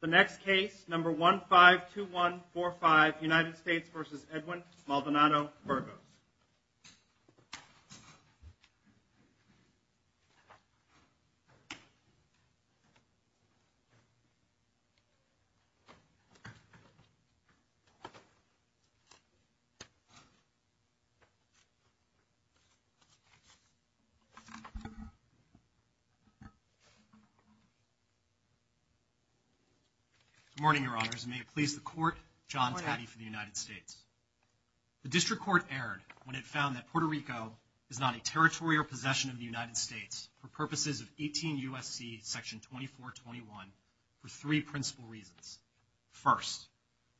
The next case, number 152145, United States v. Edwin Maldonado-Burgos Good morning, Your Honors, and may it please the Court, John Taddy for the United States. The District Court erred when it found that Puerto Rico is not a territory or possession of the United States for purposes of 18 U.S.C. section 2421 for three principal reasons. First,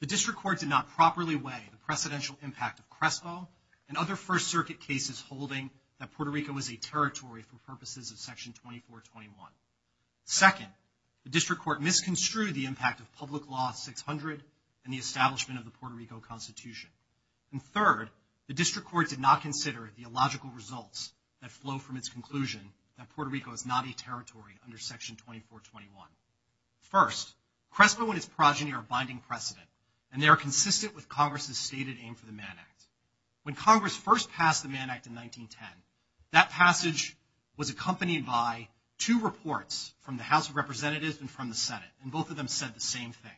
the District Court did not properly weigh the precedential impact of Crespo and other First Circuit cases holding that Puerto Rico is a territory for purposes of section 2421. Second, the District Court misconstrued the impact of Public Law 600 and the establishment of the Puerto Rico Constitution. And third, the District Court did not consider the illogical results that flow from its conclusion that Puerto Rico is not a territory under section 2421. First, Crespo and its progeny are binding precedent, and they are consistent with Congress's stated aim for the Mann Act. When Congress first passed the Mann Act in 1910, that passage was accompanied by two reports from the House of Representatives and from the Senate, and both of them said the same thing.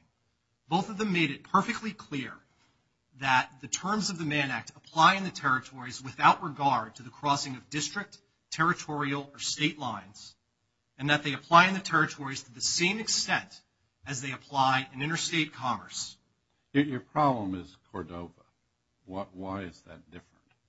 Both of them made it perfectly clear that the terms of the Mann Act apply in the territories without regard to the crossing of district, territorial, or state lines, and that they apply in the territories to the same extent as they apply in interstate commerce. Your problem is Cordova. Why is that different?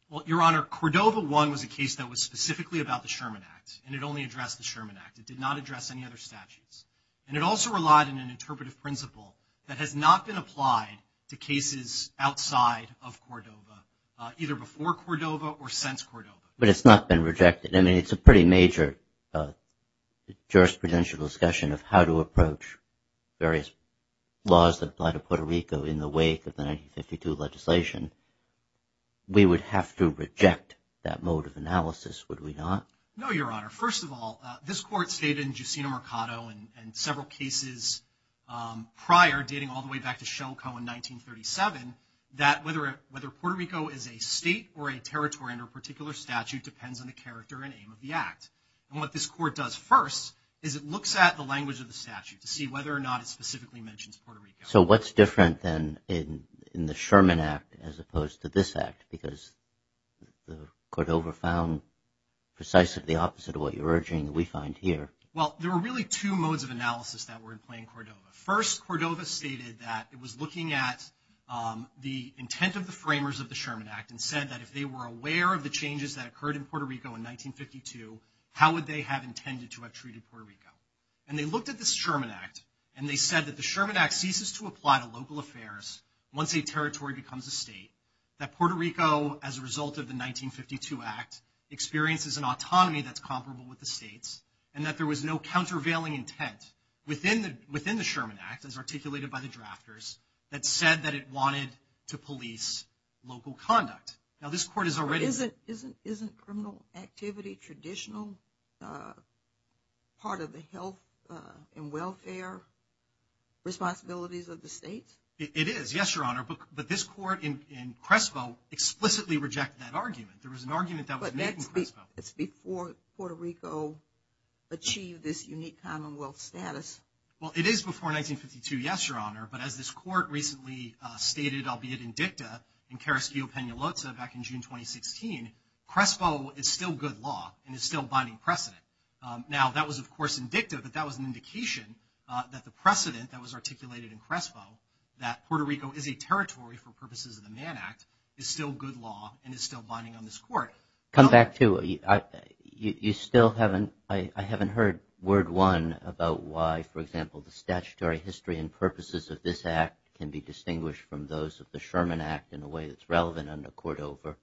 Well, Your Honor, Cordova 1 was a case that was specifically about the Sherman Act, and it only addressed the Sherman Act. It did not address any other statutes. And it also relied on an interpretive principle that has not been applied to cases outside of Cordova, either before Cordova or since Cordova. But it's not been rejected. I mean, it's a pretty major jurisprudential discussion of how to approach various laws that apply to Puerto Rico in the wake of the 1952 legislation. We would have to reject that mode of analysis, would we not? No, Your Honor. First of all, this Court stated in Justino Mercado and several cases prior, dating all the way back to Shelco in 1937, that whether Puerto Rico is a state or a territory under a particular statute depends on the character and aim of the Act. And what this Court does first is it looks at the language of the statute to see whether or not it specifically mentions Puerto Rico. So what's different then in the Sherman Act as opposed to this Act? Because Cordova found precisely the opposite of what you're urging that we find here. Well, there were really two modes of analysis that were in plain Cordova. First, Cordova stated that it was looking at the intent of the framers of the Sherman Act and said that if they were aware of the changes that occurred in Puerto Rico in 1952, how would they have intended to have treated Puerto Rico? And they looked at this Sherman Act, and they said that the Sherman Act ceases to apply to local affairs once a territory becomes a state, that Puerto Rico, as a result of the 1952 Act, experiences an autonomy that's comparable with the state's, and that there was no countervailing intent within the Sherman Act, as articulated by the drafters, that said that it wanted to police local conduct. But isn't criminal activity traditional part of the health and welfare responsibilities of the states? It is, yes, Your Honor. But this court in Crespo explicitly rejected that argument. There was an argument that was made in Crespo. But that's before Puerto Rico achieved this unique commonwealth status. Well, it is before 1952, yes, Your Honor. But as this court recently stated, albeit in dicta, in Carasquillo-Penaloza back in June 2016, Crespo is still good law and is still binding precedent. Now, that was, of course, in dicta, but that was an indication that the precedent that was articulated in Crespo, that Puerto Rico is a territory for purposes of the Mann Act, is still good law and is still binding on this court. Come back to it. You still haven't – I haven't heard word, one, about why, for example, the statutory history and purposes of this Act can be distinguished from those of the Sherman Act in a way that's relevant under Cordova,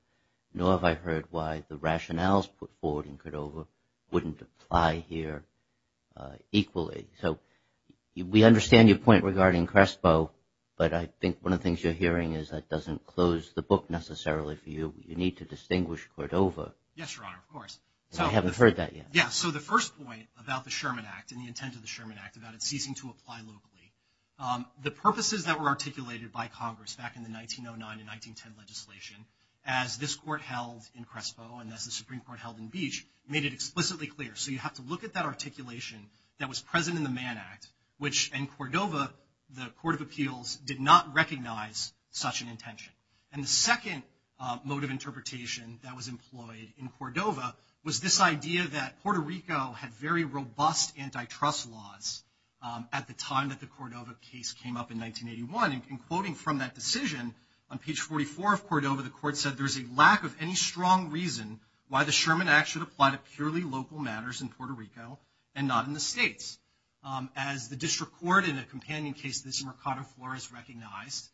nor have I heard why the rationales put forward in Cordova wouldn't apply here equally. So we understand your point regarding Crespo, but I think one of the things you're hearing is that doesn't close the book necessarily for you. You need to distinguish Cordova. Yes, Your Honor, of course. I haven't heard that yet. Yeah. So the first point about the Sherman Act and the intent of the Sherman Act, about it ceasing to apply locally, the purposes that were articulated by Congress back in the 1909 and 1910 legislation, as this court held in Crespo and as the Supreme Court held in Beach, made it explicitly clear. So you have to look at that articulation that was present in the Mann Act, which in Cordova, the Court of Appeals did not recognize such an intention. And the second mode of interpretation that was employed in Cordova was this idea that Puerto Rico had very robust antitrust laws at the time that the Cordova case came up in 1981. And quoting from that decision, on page 44 of Cordova, the Court said, there is a lack of any strong reason why the Sherman Act should apply to purely local matters in Puerto Rico and not in the states. As the District Court in a companion case to this in Mercado Flores recognized,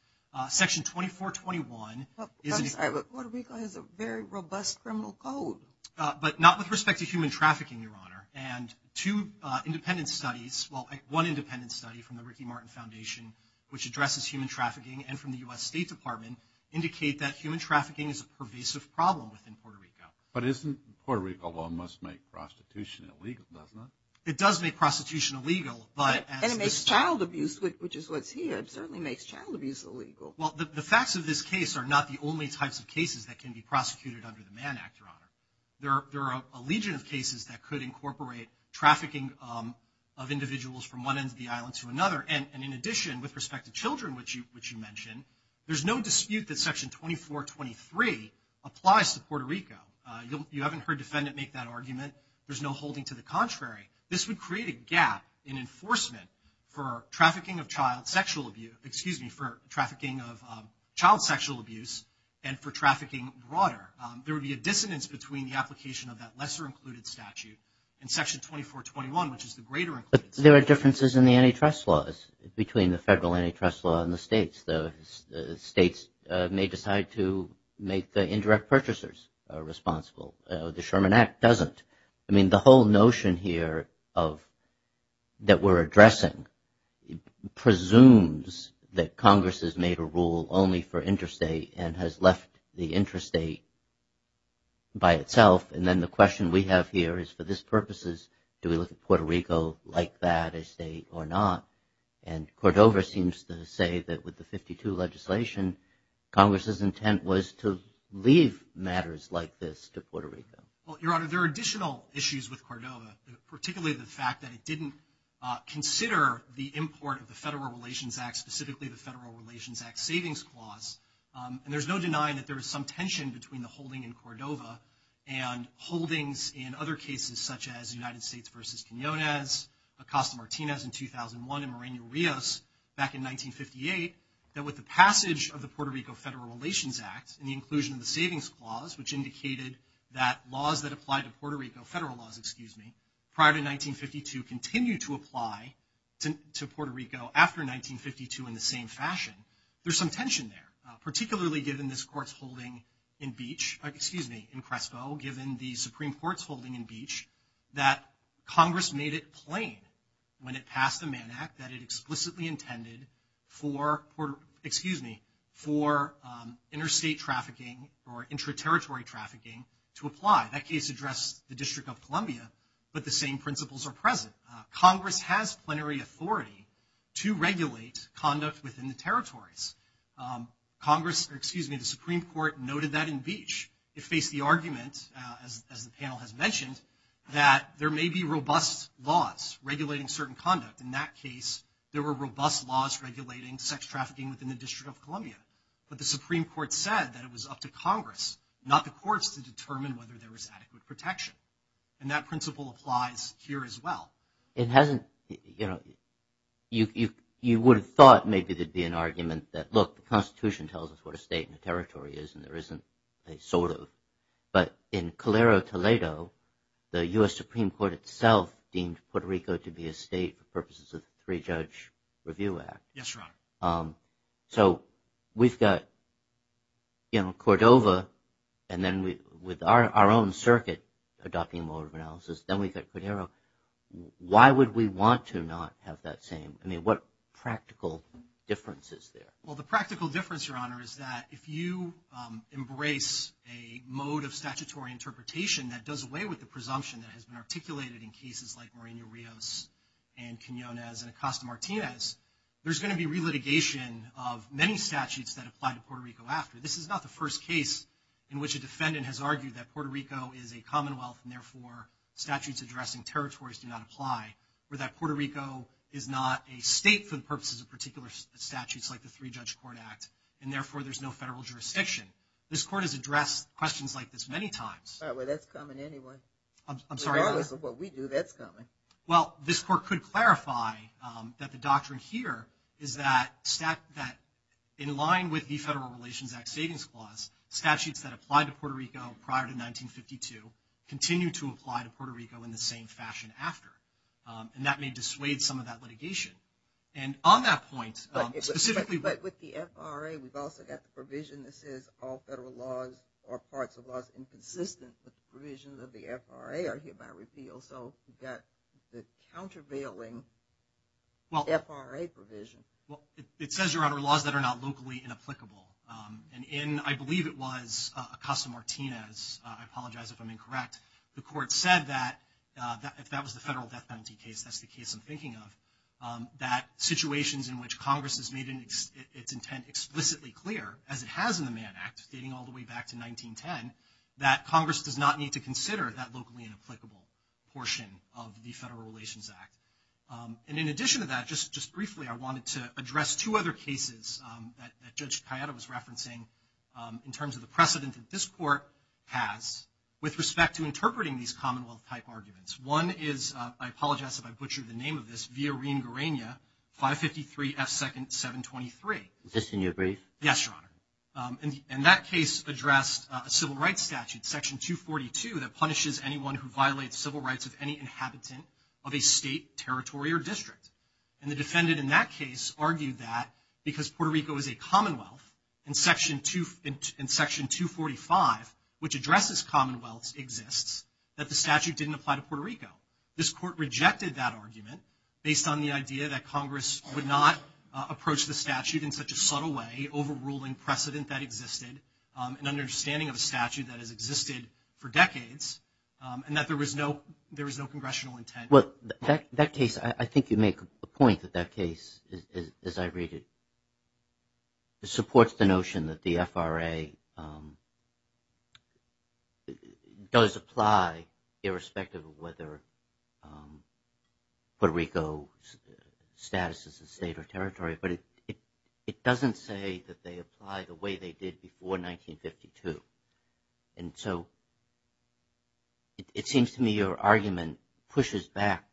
Section 2421 is a very robust criminal code. But not with respect to human trafficking, Your Honor. And two independent studies, well, one independent study from the Ricky Martin Foundation, which addresses human trafficking and from the U.S. State Department, indicate that human trafficking is a pervasive problem within Puerto Rico. But isn't Puerto Rico law must make prostitution illegal, doesn't it? It does make prostitution illegal. And it makes child abuse, which is what's here, certainly makes child abuse illegal. Well, the facts of this case are not the only types of cases that can be prosecuted under the Mann Act, Your Honor. There are a legion of cases that could incorporate trafficking of individuals from one end of the island to another. And in addition, with respect to children, which you mentioned, there's no dispute that Section 2423 applies to Puerto Rico. You haven't heard defendant make that argument. There's no holding to the contrary. This would create a gap in enforcement for trafficking of child sexual abuse, excuse me, for trafficking of child sexual abuse and for trafficking broader. There would be a dissonance between the application of that lesser included statute and Section 2421, which is the greater included statute. But there are differences in the antitrust laws between the federal antitrust law and the states. The states may decide to make the indirect purchasers responsible. The Sherman Act doesn't. I mean, the whole notion here of that we're addressing presumes that Congress has made a rule only for interstate and has left the interstate by itself. And then the question we have here is, for this purposes, do we look at Puerto Rico like that, a state or not? And Cordova seems to say that with the 52 legislation, Congress's intent was to leave matters like this to Puerto Rico. Well, Your Honor, there are additional issues with Cordova, particularly the fact that it didn't consider the import of the Federal Relations Act, specifically the Federal Relations Act Savings Clause. And there's no denying that there was some tension between the holding in Cordova and holdings in other cases such as United States v. Quinonez, Acosta-Martinez in 2001, and Moreno-Rios back in 1958, that with the passage of the Puerto Rico Federal Relations Act and the inclusion of the Savings Clause, which indicated that laws that applied to Puerto Rico, federal laws, prior to 1952, continue to apply to Puerto Rico after 1952 in the same fashion. There's some tension there, particularly given this Court's holding in Crespo, given the Supreme Court's holding in Beach, that Congress made it plain when it passed the Mann Act that it explicitly intended for interstate trafficking or interterritory trafficking to apply. That case addressed the District of Columbia, but the same principles are present. Congress has plenary authority to regulate conduct within the territories. The Supreme Court noted that in Beach. It faced the argument, as the panel has mentioned, that there may be robust laws regulating certain conduct. In that case, there were robust laws regulating sex trafficking within the District of Columbia. But the Supreme Court said that it was up to Congress, not the courts, to determine whether there was adequate protection. And that principle applies here as well. It hasn't, you know, you would have thought maybe there'd be an argument that, look, the Constitution tells us what a state and a territory is, and there isn't a sort of. But in Calero-Toledo, the U.S. Supreme Court itself deemed Puerto Rico to be a state for purposes of the Three-Judge Review Act. Yes, Your Honor. So we've got, you know, Cordova, and then with our own circuit adopting a mode of analysis. Then we've got Cordero. Why would we want to not have that same? I mean, what practical difference is there? Well, the practical difference, Your Honor, is that if you embrace a mode of statutory interpretation that does away with the presumption that has been articulated in cases like Moreno-Rios and Quinonez and Acosta-Martinez, there's going to be relitigation of many statutes that apply to Puerto Rico after. This is not the first case in which a defendant has argued that Puerto Rico is a commonwealth, and therefore statutes addressing territories do not apply, or that Puerto Rico is not a state for the purposes of particular statutes like the Three-Judge Court Act, and therefore there's no federal jurisdiction. This Court has addressed questions like this many times. Well, that's coming anyway. I'm sorry, Your Honor. What we do, that's coming. Well, this Court could clarify that the doctrine here is that in line with the Federal Relations Act Savings Clause, statutes that apply to Puerto Rico prior to 1952 continue to apply to Puerto Rico in the same fashion after. And that may dissuade some of that litigation. And on that point, specifically – But with the FRA, we've also got the provision that says all federal laws or parts of laws inconsistent with the provision of the FRA are hereby repealed. So we've got the countervailing FRA provision. Well, it says, Your Honor, laws that are not locally inapplicable. And in, I believe it was, Acosta-Martinez, I apologize if I'm incorrect, the Court said that if that was the federal death penalty case, that's the case I'm thinking of, that situations in which Congress has made its intent explicitly clear, as it has in the Mann Act, dating all the way back to 1910, that Congress does not need to consider that locally inapplicable portion of the Federal Relations Act. And in addition to that, just briefly, I wanted to address two other cases that Judge Cayetano was referencing in terms of the precedent that this Court has with respect to interpreting these Commonwealth-type arguments. One is, I apologize if I butchered the name of this, Villarín-Garaña, 553 F. 2nd. 723. Is this in your brief? Yes, Your Honor. And that case addressed a civil rights statute, Section 242, that punishes anyone who violates civil rights of any inhabitant of a state, territory, or district. And the defendant in that case argued that because Puerto Rico is a commonwealth, and Section 245, which addresses commonwealths, exists, that the statute didn't apply to Puerto Rico. This Court rejected that argument based on the idea that Congress would not approach the statute in such a subtle way, overruling precedent that existed, and understanding of a statute that has existed for decades, and that there was no congressional intent. Well, that case, I think you make a point that that case, as I read it, supports the notion that the FRA does apply irrespective of whether Puerto Rico's status as a state or territory. But it doesn't say that they apply the way they did before 1952. And so it seems to me your argument pushes back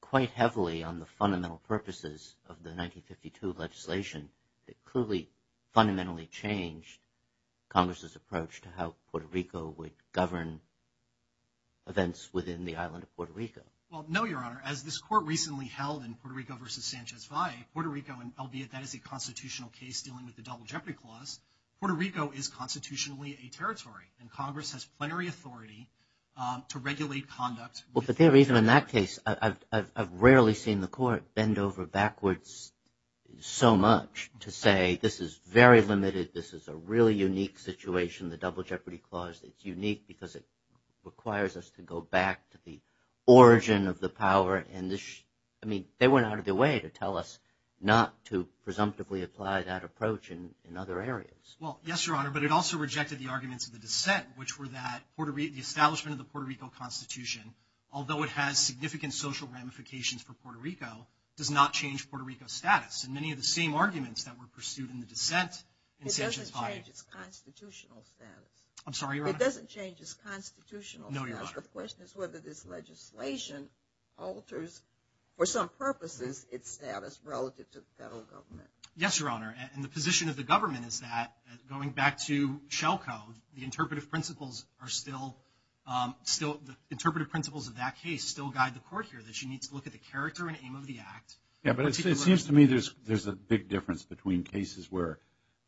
quite heavily on the fundamental purposes of the 1952 legislation that clearly fundamentally changed Congress's approach to how Puerto Rico would govern events within the island of Puerto Rico. Well, no, Your Honor. As this Court recently held in Puerto Rico v. Sanchez Valle, Puerto Rico, and albeit that is a constitutional case dealing with the Double Jeopardy Clause, Puerto Rico is constitutionally a territory, and Congress has plenary authority to regulate conduct. Well, for that reason, in that case, I've rarely seen the Court bend over backwards so much to say, this is very limited, this is a really unique situation, the Double Jeopardy Clause, it's unique because it requires us to go back to the origin of the power. I mean, they went out of their way to tell us not to presumptively apply that approach in other areas. Well, yes, Your Honor, but it also rejected the arguments of the dissent, which were that the establishment of the Puerto Rico Constitution, although it has significant social ramifications for Puerto Rico, does not change Puerto Rico's status. And many of the same arguments that were pursued in the dissent in Sanchez Valle. It doesn't change its constitutional status. I'm sorry, Your Honor? It doesn't change its constitutional status. No, Your Honor. But the question is whether this legislation alters, for some purposes, its status relative to the federal government. Yes, Your Honor, and the position of the government is that, going back to shell code, the interpretive principles of that case still guide the Court here, that she needs to look at the character and aim of the act. Yeah, but it seems to me there's a big difference between cases where,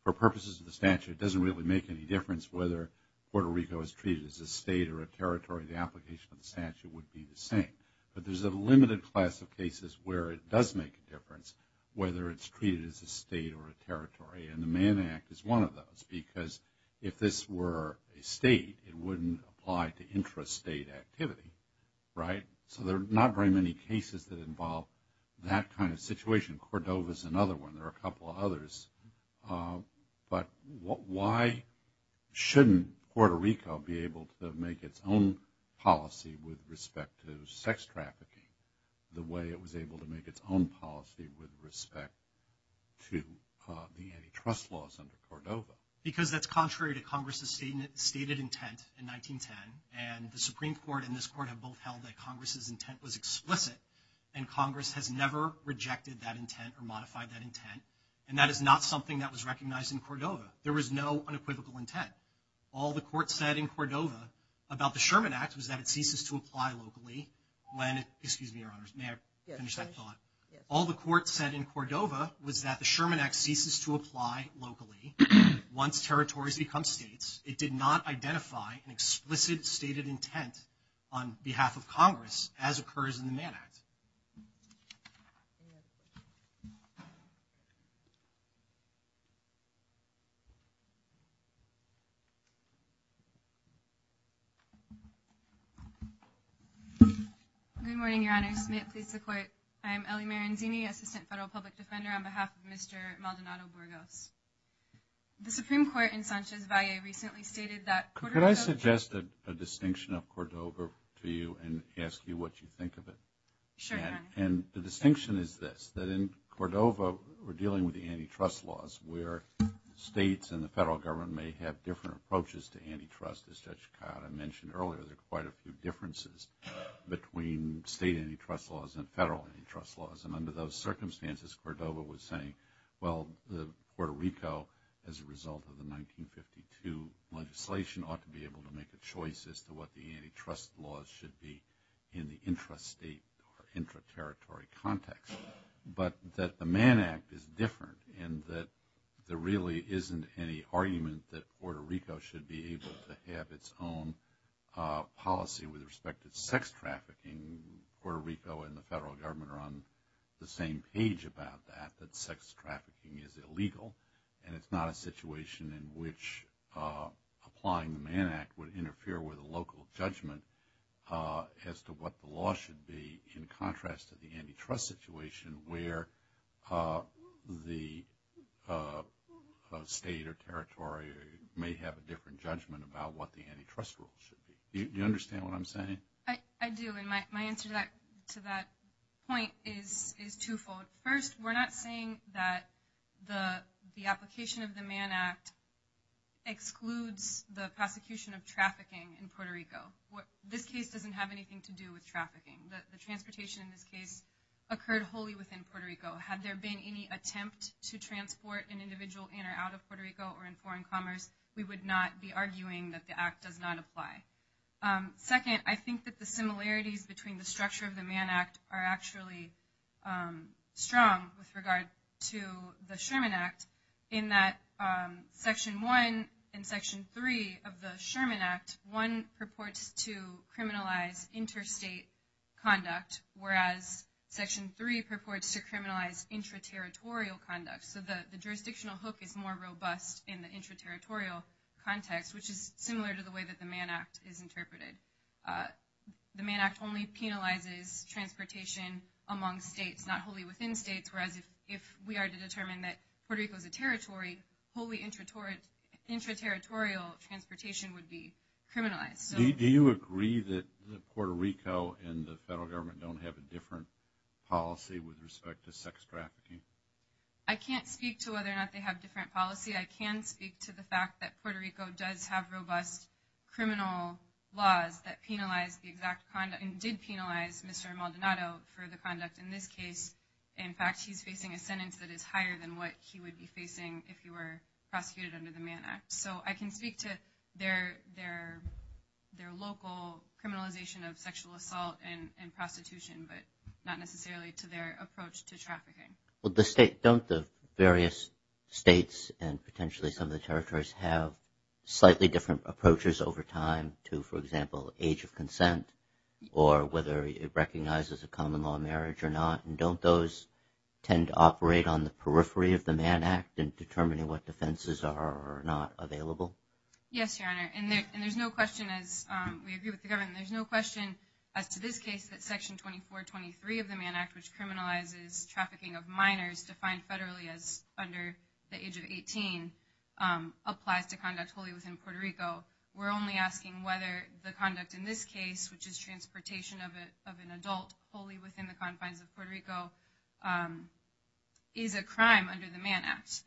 for purposes of the statute, it doesn't really make any difference whether Puerto Rico is treated as a state or a territory. The application of the statute would be the same. But there's a limited class of cases where it does make a difference, whether it's treated as a state or a territory. And the Mann Act is one of those, because if this were a state, it wouldn't apply to intrastate activity, right? So there are not very many cases that involve that kind of situation. Cordova is another one. There are a couple of others. But why shouldn't Puerto Rico be able to make its own policy with respect to sex trafficking the way it was able to make its own policy with respect to the antitrust laws under Cordova? Because that's contrary to Congress's stated intent in 1910, and the Supreme Court and this Court have both held that Congress's intent was explicit, and Congress has never rejected that intent or modified that intent. And that is not something that was recognized in Cordova. There was no unequivocal intent. All the Court said in Cordova about the Sherman Act was that it ceases to apply locally when it – excuse me, Your Honors, may I finish that thought? All the Court said in Cordova was that the Sherman Act ceases to apply locally once territories become states. It did not identify an explicit stated intent on behalf of Congress as occurs in the Mann Act. Good morning, Your Honors. May it please the Court. I am Ellie Maranzini, Assistant Federal Public Defender, on behalf of Mr. Maldonado Burgos. The Supreme Court in Sanchez Valle recently stated that Cordova – Could I suggest a distinction of Cordova to you and ask you what you think of it? Sure, Your Honor. And the distinction is this, that in Cordova we're dealing with antitrust laws where states and the federal government may have different approaches to antitrust. As Judge Cotta mentioned earlier, there are quite a few differences between state antitrust laws and federal antitrust laws. And under those circumstances, Cordova was saying, well, Puerto Rico, as a result of the 1952 legislation, ought to be able to make a choice as to what the antitrust laws should be in the intrastate or interterritory context. But that the Mann Act is different in that there really isn't any argument that Puerto Rico should be able to have its own policy with respect to sex trafficking. Puerto Rico and the federal government are on the same page about that, that sex trafficking is illegal. And it's not a situation in which applying the Mann Act would interfere with a local judgment as to what the law should be in contrast to the antitrust situation where the state or territory may have a different judgment about what the antitrust rule should be. Do you understand what I'm saying? I do, and my answer to that point is twofold. First, we're not saying that the application of the Mann Act excludes the prosecution of trafficking in Puerto Rico. This case doesn't have anything to do with trafficking. The transportation in this case occurred wholly within Puerto Rico. Had there been any attempt to transport an individual in or out of Puerto Rico or in foreign commerce, we would not be arguing that the act does not apply. Second, I think that the similarities between the structure of the Mann Act are actually strong with regard to the Sherman Act in that Section 1 and Section 3 of the Sherman Act, 1 purports to criminalize interstate conduct, whereas Section 3 purports to criminalize interterritorial conduct. So the jurisdictional hook is more robust in the interterritorial context, which is similar to the way that the Mann Act is interpreted. The Mann Act only penalizes transportation among states, not wholly within states, whereas if we are to determine that Puerto Rico is a territory, wholly interterritorial transportation would be criminalized. Do you agree that Puerto Rico and the federal government don't have a different policy with respect to sex trafficking? I can't speak to whether or not they have different policy. I can speak to the fact that Puerto Rico does have robust criminal laws that penalize the exact conduct and did penalize Mr. Maldonado for the conduct in this case. In fact, he's facing a sentence that is higher than what he would be facing if he were prosecuted under the Mann Act. So I can speak to their local criminalization of sexual assault and prostitution, but not necessarily to their approach to trafficking. Well, don't the various states and potentially some of the territories have slightly different approaches over time to, for example, age of consent or whether it recognizes a common law marriage or not? And don't those tend to operate on the periphery of the Mann Act in determining what defenses are or are not available? Yes, Your Honor, and there's no question, as we agree with the government, and there's no question as to this case that Section 2423 of the Mann Act, which criminalizes trafficking of minors defined federally as under the age of 18, applies to conduct wholly within Puerto Rico. We're only asking whether the conduct in this case, which is transportation of an adult wholly within the confines of Puerto Rico, is a crime under the Mann Act.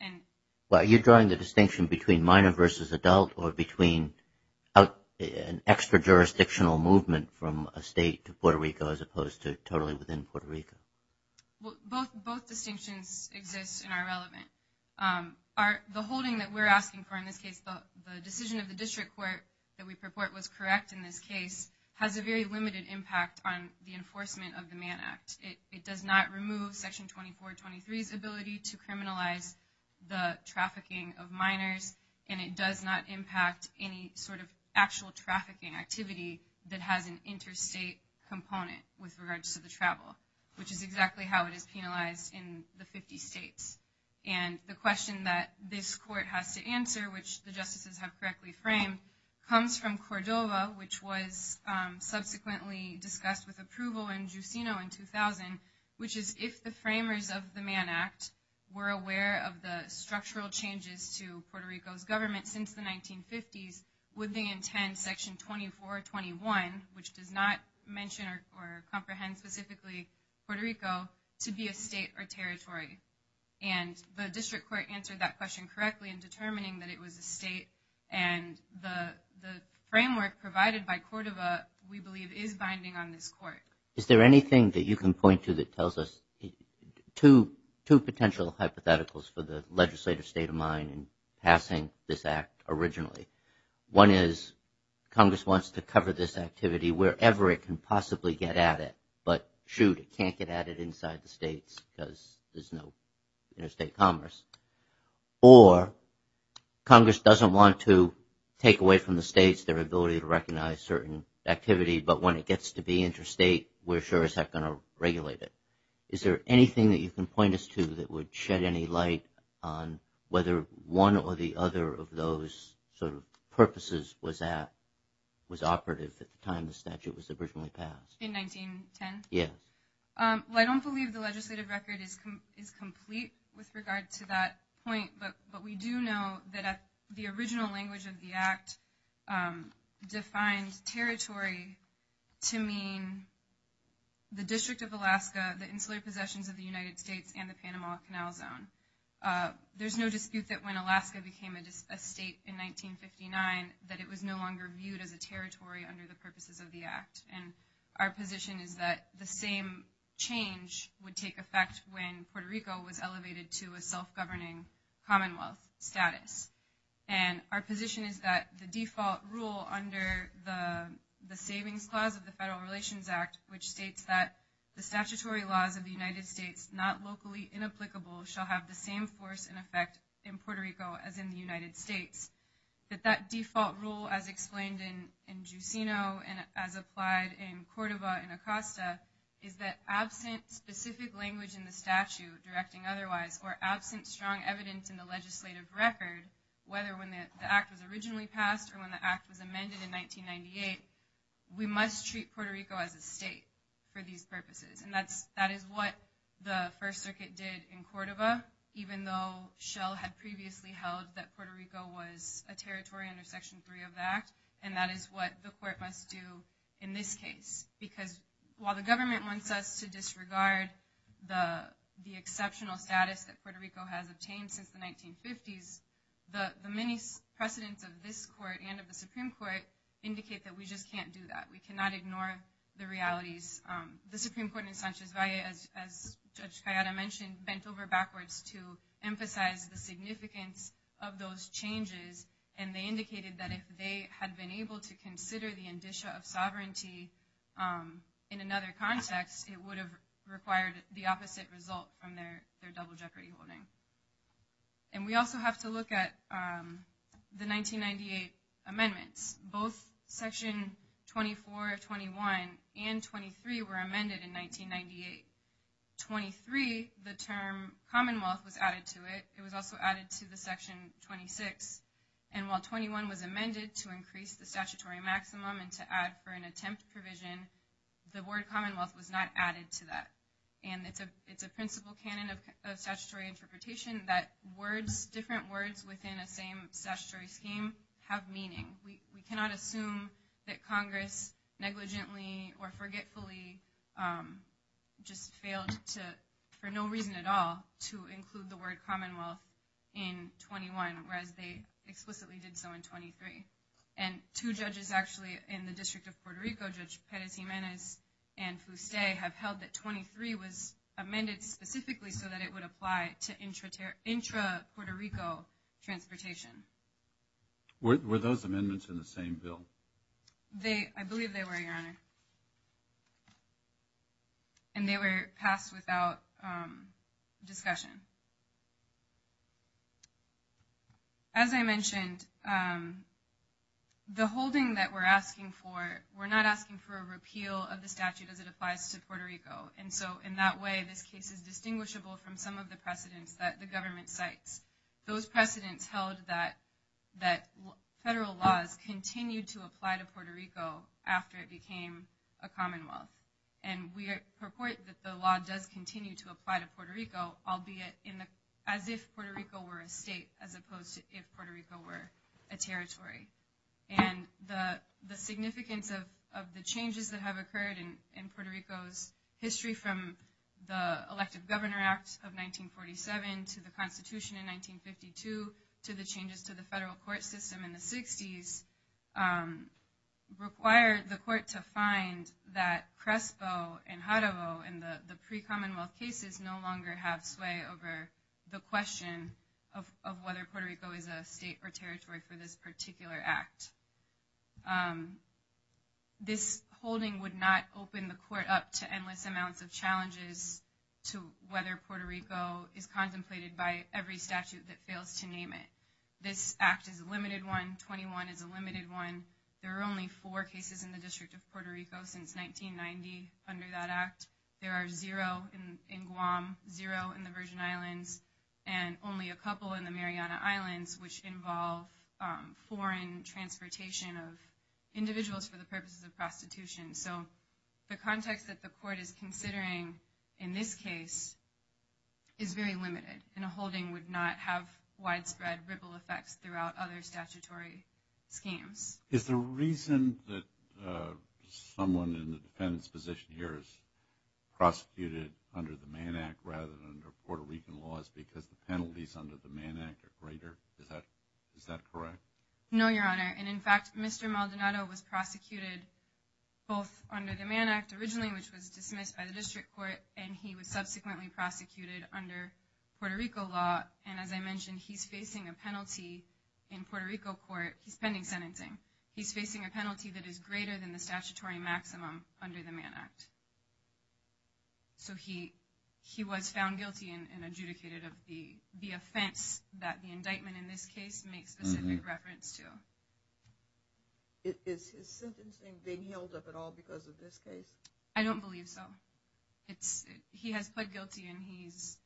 Well, are you drawing the distinction between minor versus adult or between an extra-jurisdictional movement from a state to Puerto Rico as opposed to totally within Puerto Rico? Both distinctions exist and are relevant. The holding that we're asking for in this case, the decision of the district court that we purport was correct in this case, has a very limited impact on the enforcement of the Mann Act. It does not remove Section 2423's ability to criminalize the trafficking of minors, and it does not impact any sort of actual trafficking activity that has an interstate component with regards to the travel, which is exactly how it is penalized in the 50 states. And the question that this court has to answer, which the justices have correctly framed, comes from Cordova, which was subsequently discussed with approval in Jusino in 2000, which is if the framers of the Mann Act were aware of the structural changes to Puerto Rico's government since the 1950s, would they intend Section 2421, which does not mention or comprehend specifically Puerto Rico, to be a state or territory? And the district court answered that question correctly in determining that it was a state, and the framework provided by Cordova, we believe, is binding on this court. Is there anything that you can point to that tells us two potential hypotheticals for the legislative state of mind in passing this act originally? One is Congress wants to cover this activity wherever it can possibly get at it, but shoot, it can't get at it inside the states because there's no interstate commerce. Or Congress doesn't want to take away from the states their ability to recognize certain activity, but when it gets to be interstate, we're sure as heck going to regulate it. Is there anything that you can point us to that would shed any light on whether one or the other of those sort of purposes was operative at the time the statute was originally passed? In 1910? Yeah. Well, I don't believe the legislative record is complete with regard to that point, but we do know that the original language of the act defined territory to mean the District of Alaska, the insular possessions of the United States, and the Panama Canal Zone. There's no dispute that when Alaska became a state in 1959 that it was no longer viewed as a territory under the purposes of the act, and our position is that the same change would take effect when Puerto Rico was elevated to a self-governing commonwealth status. And our position is that the default rule under the Savings Clause of the Federal Relations Act, which states that the statutory laws of the United States, not locally inapplicable, shall have the same force and effect in Puerto Rico as in the United States, that that default rule, as explained in Jusino and as applied in Córdoba and Acosta, is that absent specific language in the statute directing otherwise, or absent strong evidence in the legislative record, whether when the act was originally passed or when the act was amended in 1998, we must treat Puerto Rico as a state for these purposes. And that is what the First Circuit did in Córdoba, even though Shell had previously held that Puerto Rico was a territory under Section 3 of the act, and that is what the court must do in this case. Because while the government wants us to disregard the exceptional status that Puerto Rico has obtained since the 1950s, the many precedents of this court and of the Supreme Court indicate that we just can't do that. We cannot ignore the realities. The Supreme Court in Sanchez Valle, as Judge Cayeta mentioned, bent over backwards to emphasize the significance of those changes, and they indicated that if they had been able to consider the indicia of sovereignty in another context, it would have required the opposite result from their double jeopardy holding. And we also have to look at the 1998 amendments. Both Section 24, 21, and 23 were amended in 1998. 23, the term Commonwealth, was added to it. It was also added to the Section 26. And while 21 was amended to increase the statutory maximum and to add for an attempt provision, the word Commonwealth was not added to that. And it's a principle canon of statutory interpretation that words, just different words within a same statutory scheme, have meaning. We cannot assume that Congress negligently or forgetfully just failed to, for no reason at all, to include the word Commonwealth in 21, whereas they explicitly did so in 23. And two judges actually in the District of Puerto Rico, Judge Perez Jimenez and Fuste, have held that 23 was amended specifically so that it would apply to intra-Puerto Rico transportation. Were those amendments in the same bill? I believe they were, Your Honor. And they were passed without discussion. As I mentioned, the holding that we're asking for, we're not asking for a repeal of the statute as it applies to Puerto Rico. And so in that way, this case is distinguishable from some of the precedents that the government cites. Those precedents held that federal laws continue to apply to Puerto Rico after it became a Commonwealth. And we purport that the law does continue to apply to Puerto Rico, albeit as if Puerto Rico were a state as opposed to if Puerto Rico were a territory. And the significance of the changes that have occurred in Puerto Rico's history from the Elective Governor Act of 1947 to the Constitution in 1952 to the changes to the federal court system in the 60s require the court to find that CRESPO and JAREVO and the pre-Commonwealth cases no longer have sway over the question of whether Puerto Rico is a state or territory for this particular act. This holding would not open the court up to endless amounts of challenges to whether Puerto Rico is contemplated by every statute that fails to name it. This act is a limited one. 21 is a limited one. There are only four cases in the District of Puerto Rico since 1990 under that act. There are zero in Guam, zero in the Virgin Islands, and only a couple in the Mariana Islands which involve foreign transportation of individuals for the purposes of prostitution. So the context that the court is considering in this case is very limited. And a holding would not have widespread ripple effects throughout other statutory schemes. Is the reason that someone in the defendant's position here is prosecuted under the Mann Act rather than under Puerto Rican laws because the penalties under the Mann Act are greater? Is that correct? No, Your Honor. And in fact, Mr. Maldonado was prosecuted both under the Mann Act originally, which was dismissed by the District Court, and he was subsequently prosecuted under Puerto Rico law. And as I mentioned, he's facing a penalty in Puerto Rico court. He's pending sentencing. He's facing a penalty that is greater than the statutory maximum under the Mann Act. So he was found guilty and adjudicated of the offense that the indictment in this case makes specific reference to. Is his sentencing being held up at all because of this case? I don't believe so. He has pled guilty and he's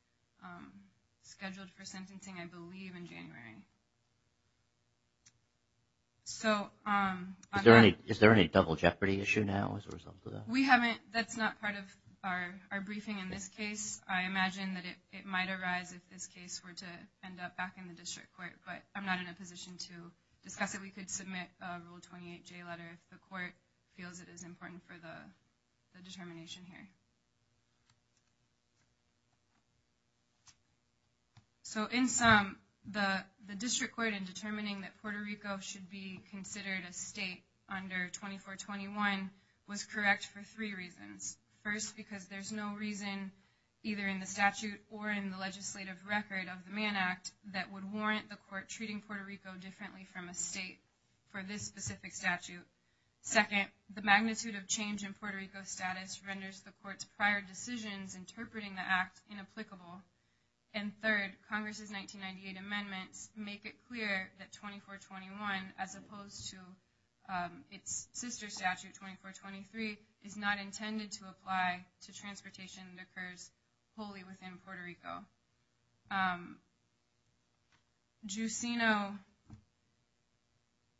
scheduled for sentencing, I believe, in January. Is there any double jeopardy issue now as a result of that? That's not part of our briefing in this case. I imagine that it might arise if this case were to end up back in the District Court, but I'm not in a position to discuss it. We could submit a Rule 28J letter if the court feels it is important for the determination here. So in sum, the District Court, in determining that Puerto Rico should be considered a state under 2421, was correct for three reasons. First, because there's no reason either in the statute or in the legislative record of the Mann Act that would warrant the court treating Puerto Rico differently from a state for this specific statute. Second, the magnitude of change in Puerto Rico's status renders the court's prior decisions interpreting the act inapplicable. And third, Congress's 1998 amendments make it clear that 2421, as opposed to its sister statute, 2423, is not intended to apply to transportation that occurs wholly within Puerto Rico. Jusino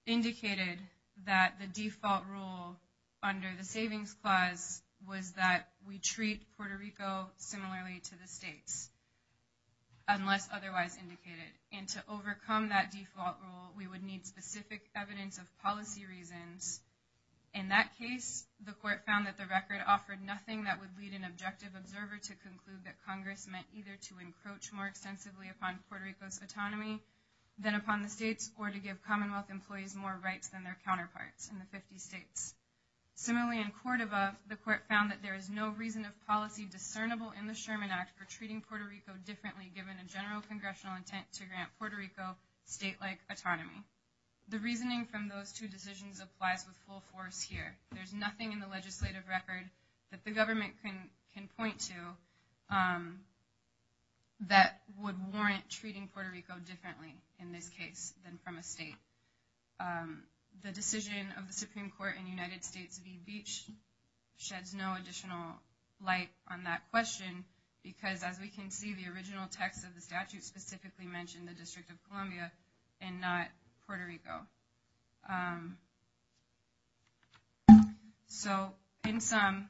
indicated that the default rule under the Savings Clause was that we treat Puerto Rico similarly to the states, unless otherwise indicated. And to overcome that default rule, we would need specific evidence of policy reasons. In that case, the court found that the record offered nothing that would lead an objective observer to conclude that Congress meant either to encroach more extensively upon Puerto Rico's autonomy than upon the states, or to give Commonwealth employees more rights than their counterparts in the 50 states. Similarly, in Córdoba, the court found that there is no reason of policy discernible in the Sherman Act for treating Puerto Rico differently given a general congressional intent to grant Puerto Rico state-like autonomy. The reasoning from those two decisions applies with full force here. There's nothing in the legislative record that the government can point to that would warrant treating Puerto Rico differently, in this case, than from a state. The decision of the Supreme Court in the United States v. Beach sheds no additional light on that question, because as we can see, the original text of the statute specifically mentioned the District of Columbia and not Puerto Rico. So, in sum,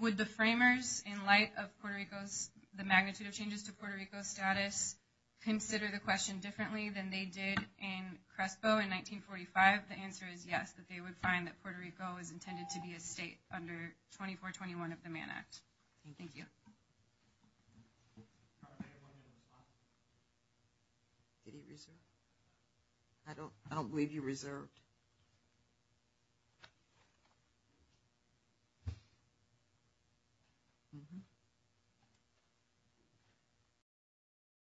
would the framers, in light of the magnitude of changes to Puerto Rico's status, consider the question differently than they did in Crespo in 1945? The answer is yes, that they would find that Puerto Rico is intended to be a state under 2421 of the Mann Act. Thank you. I don't believe you reserved.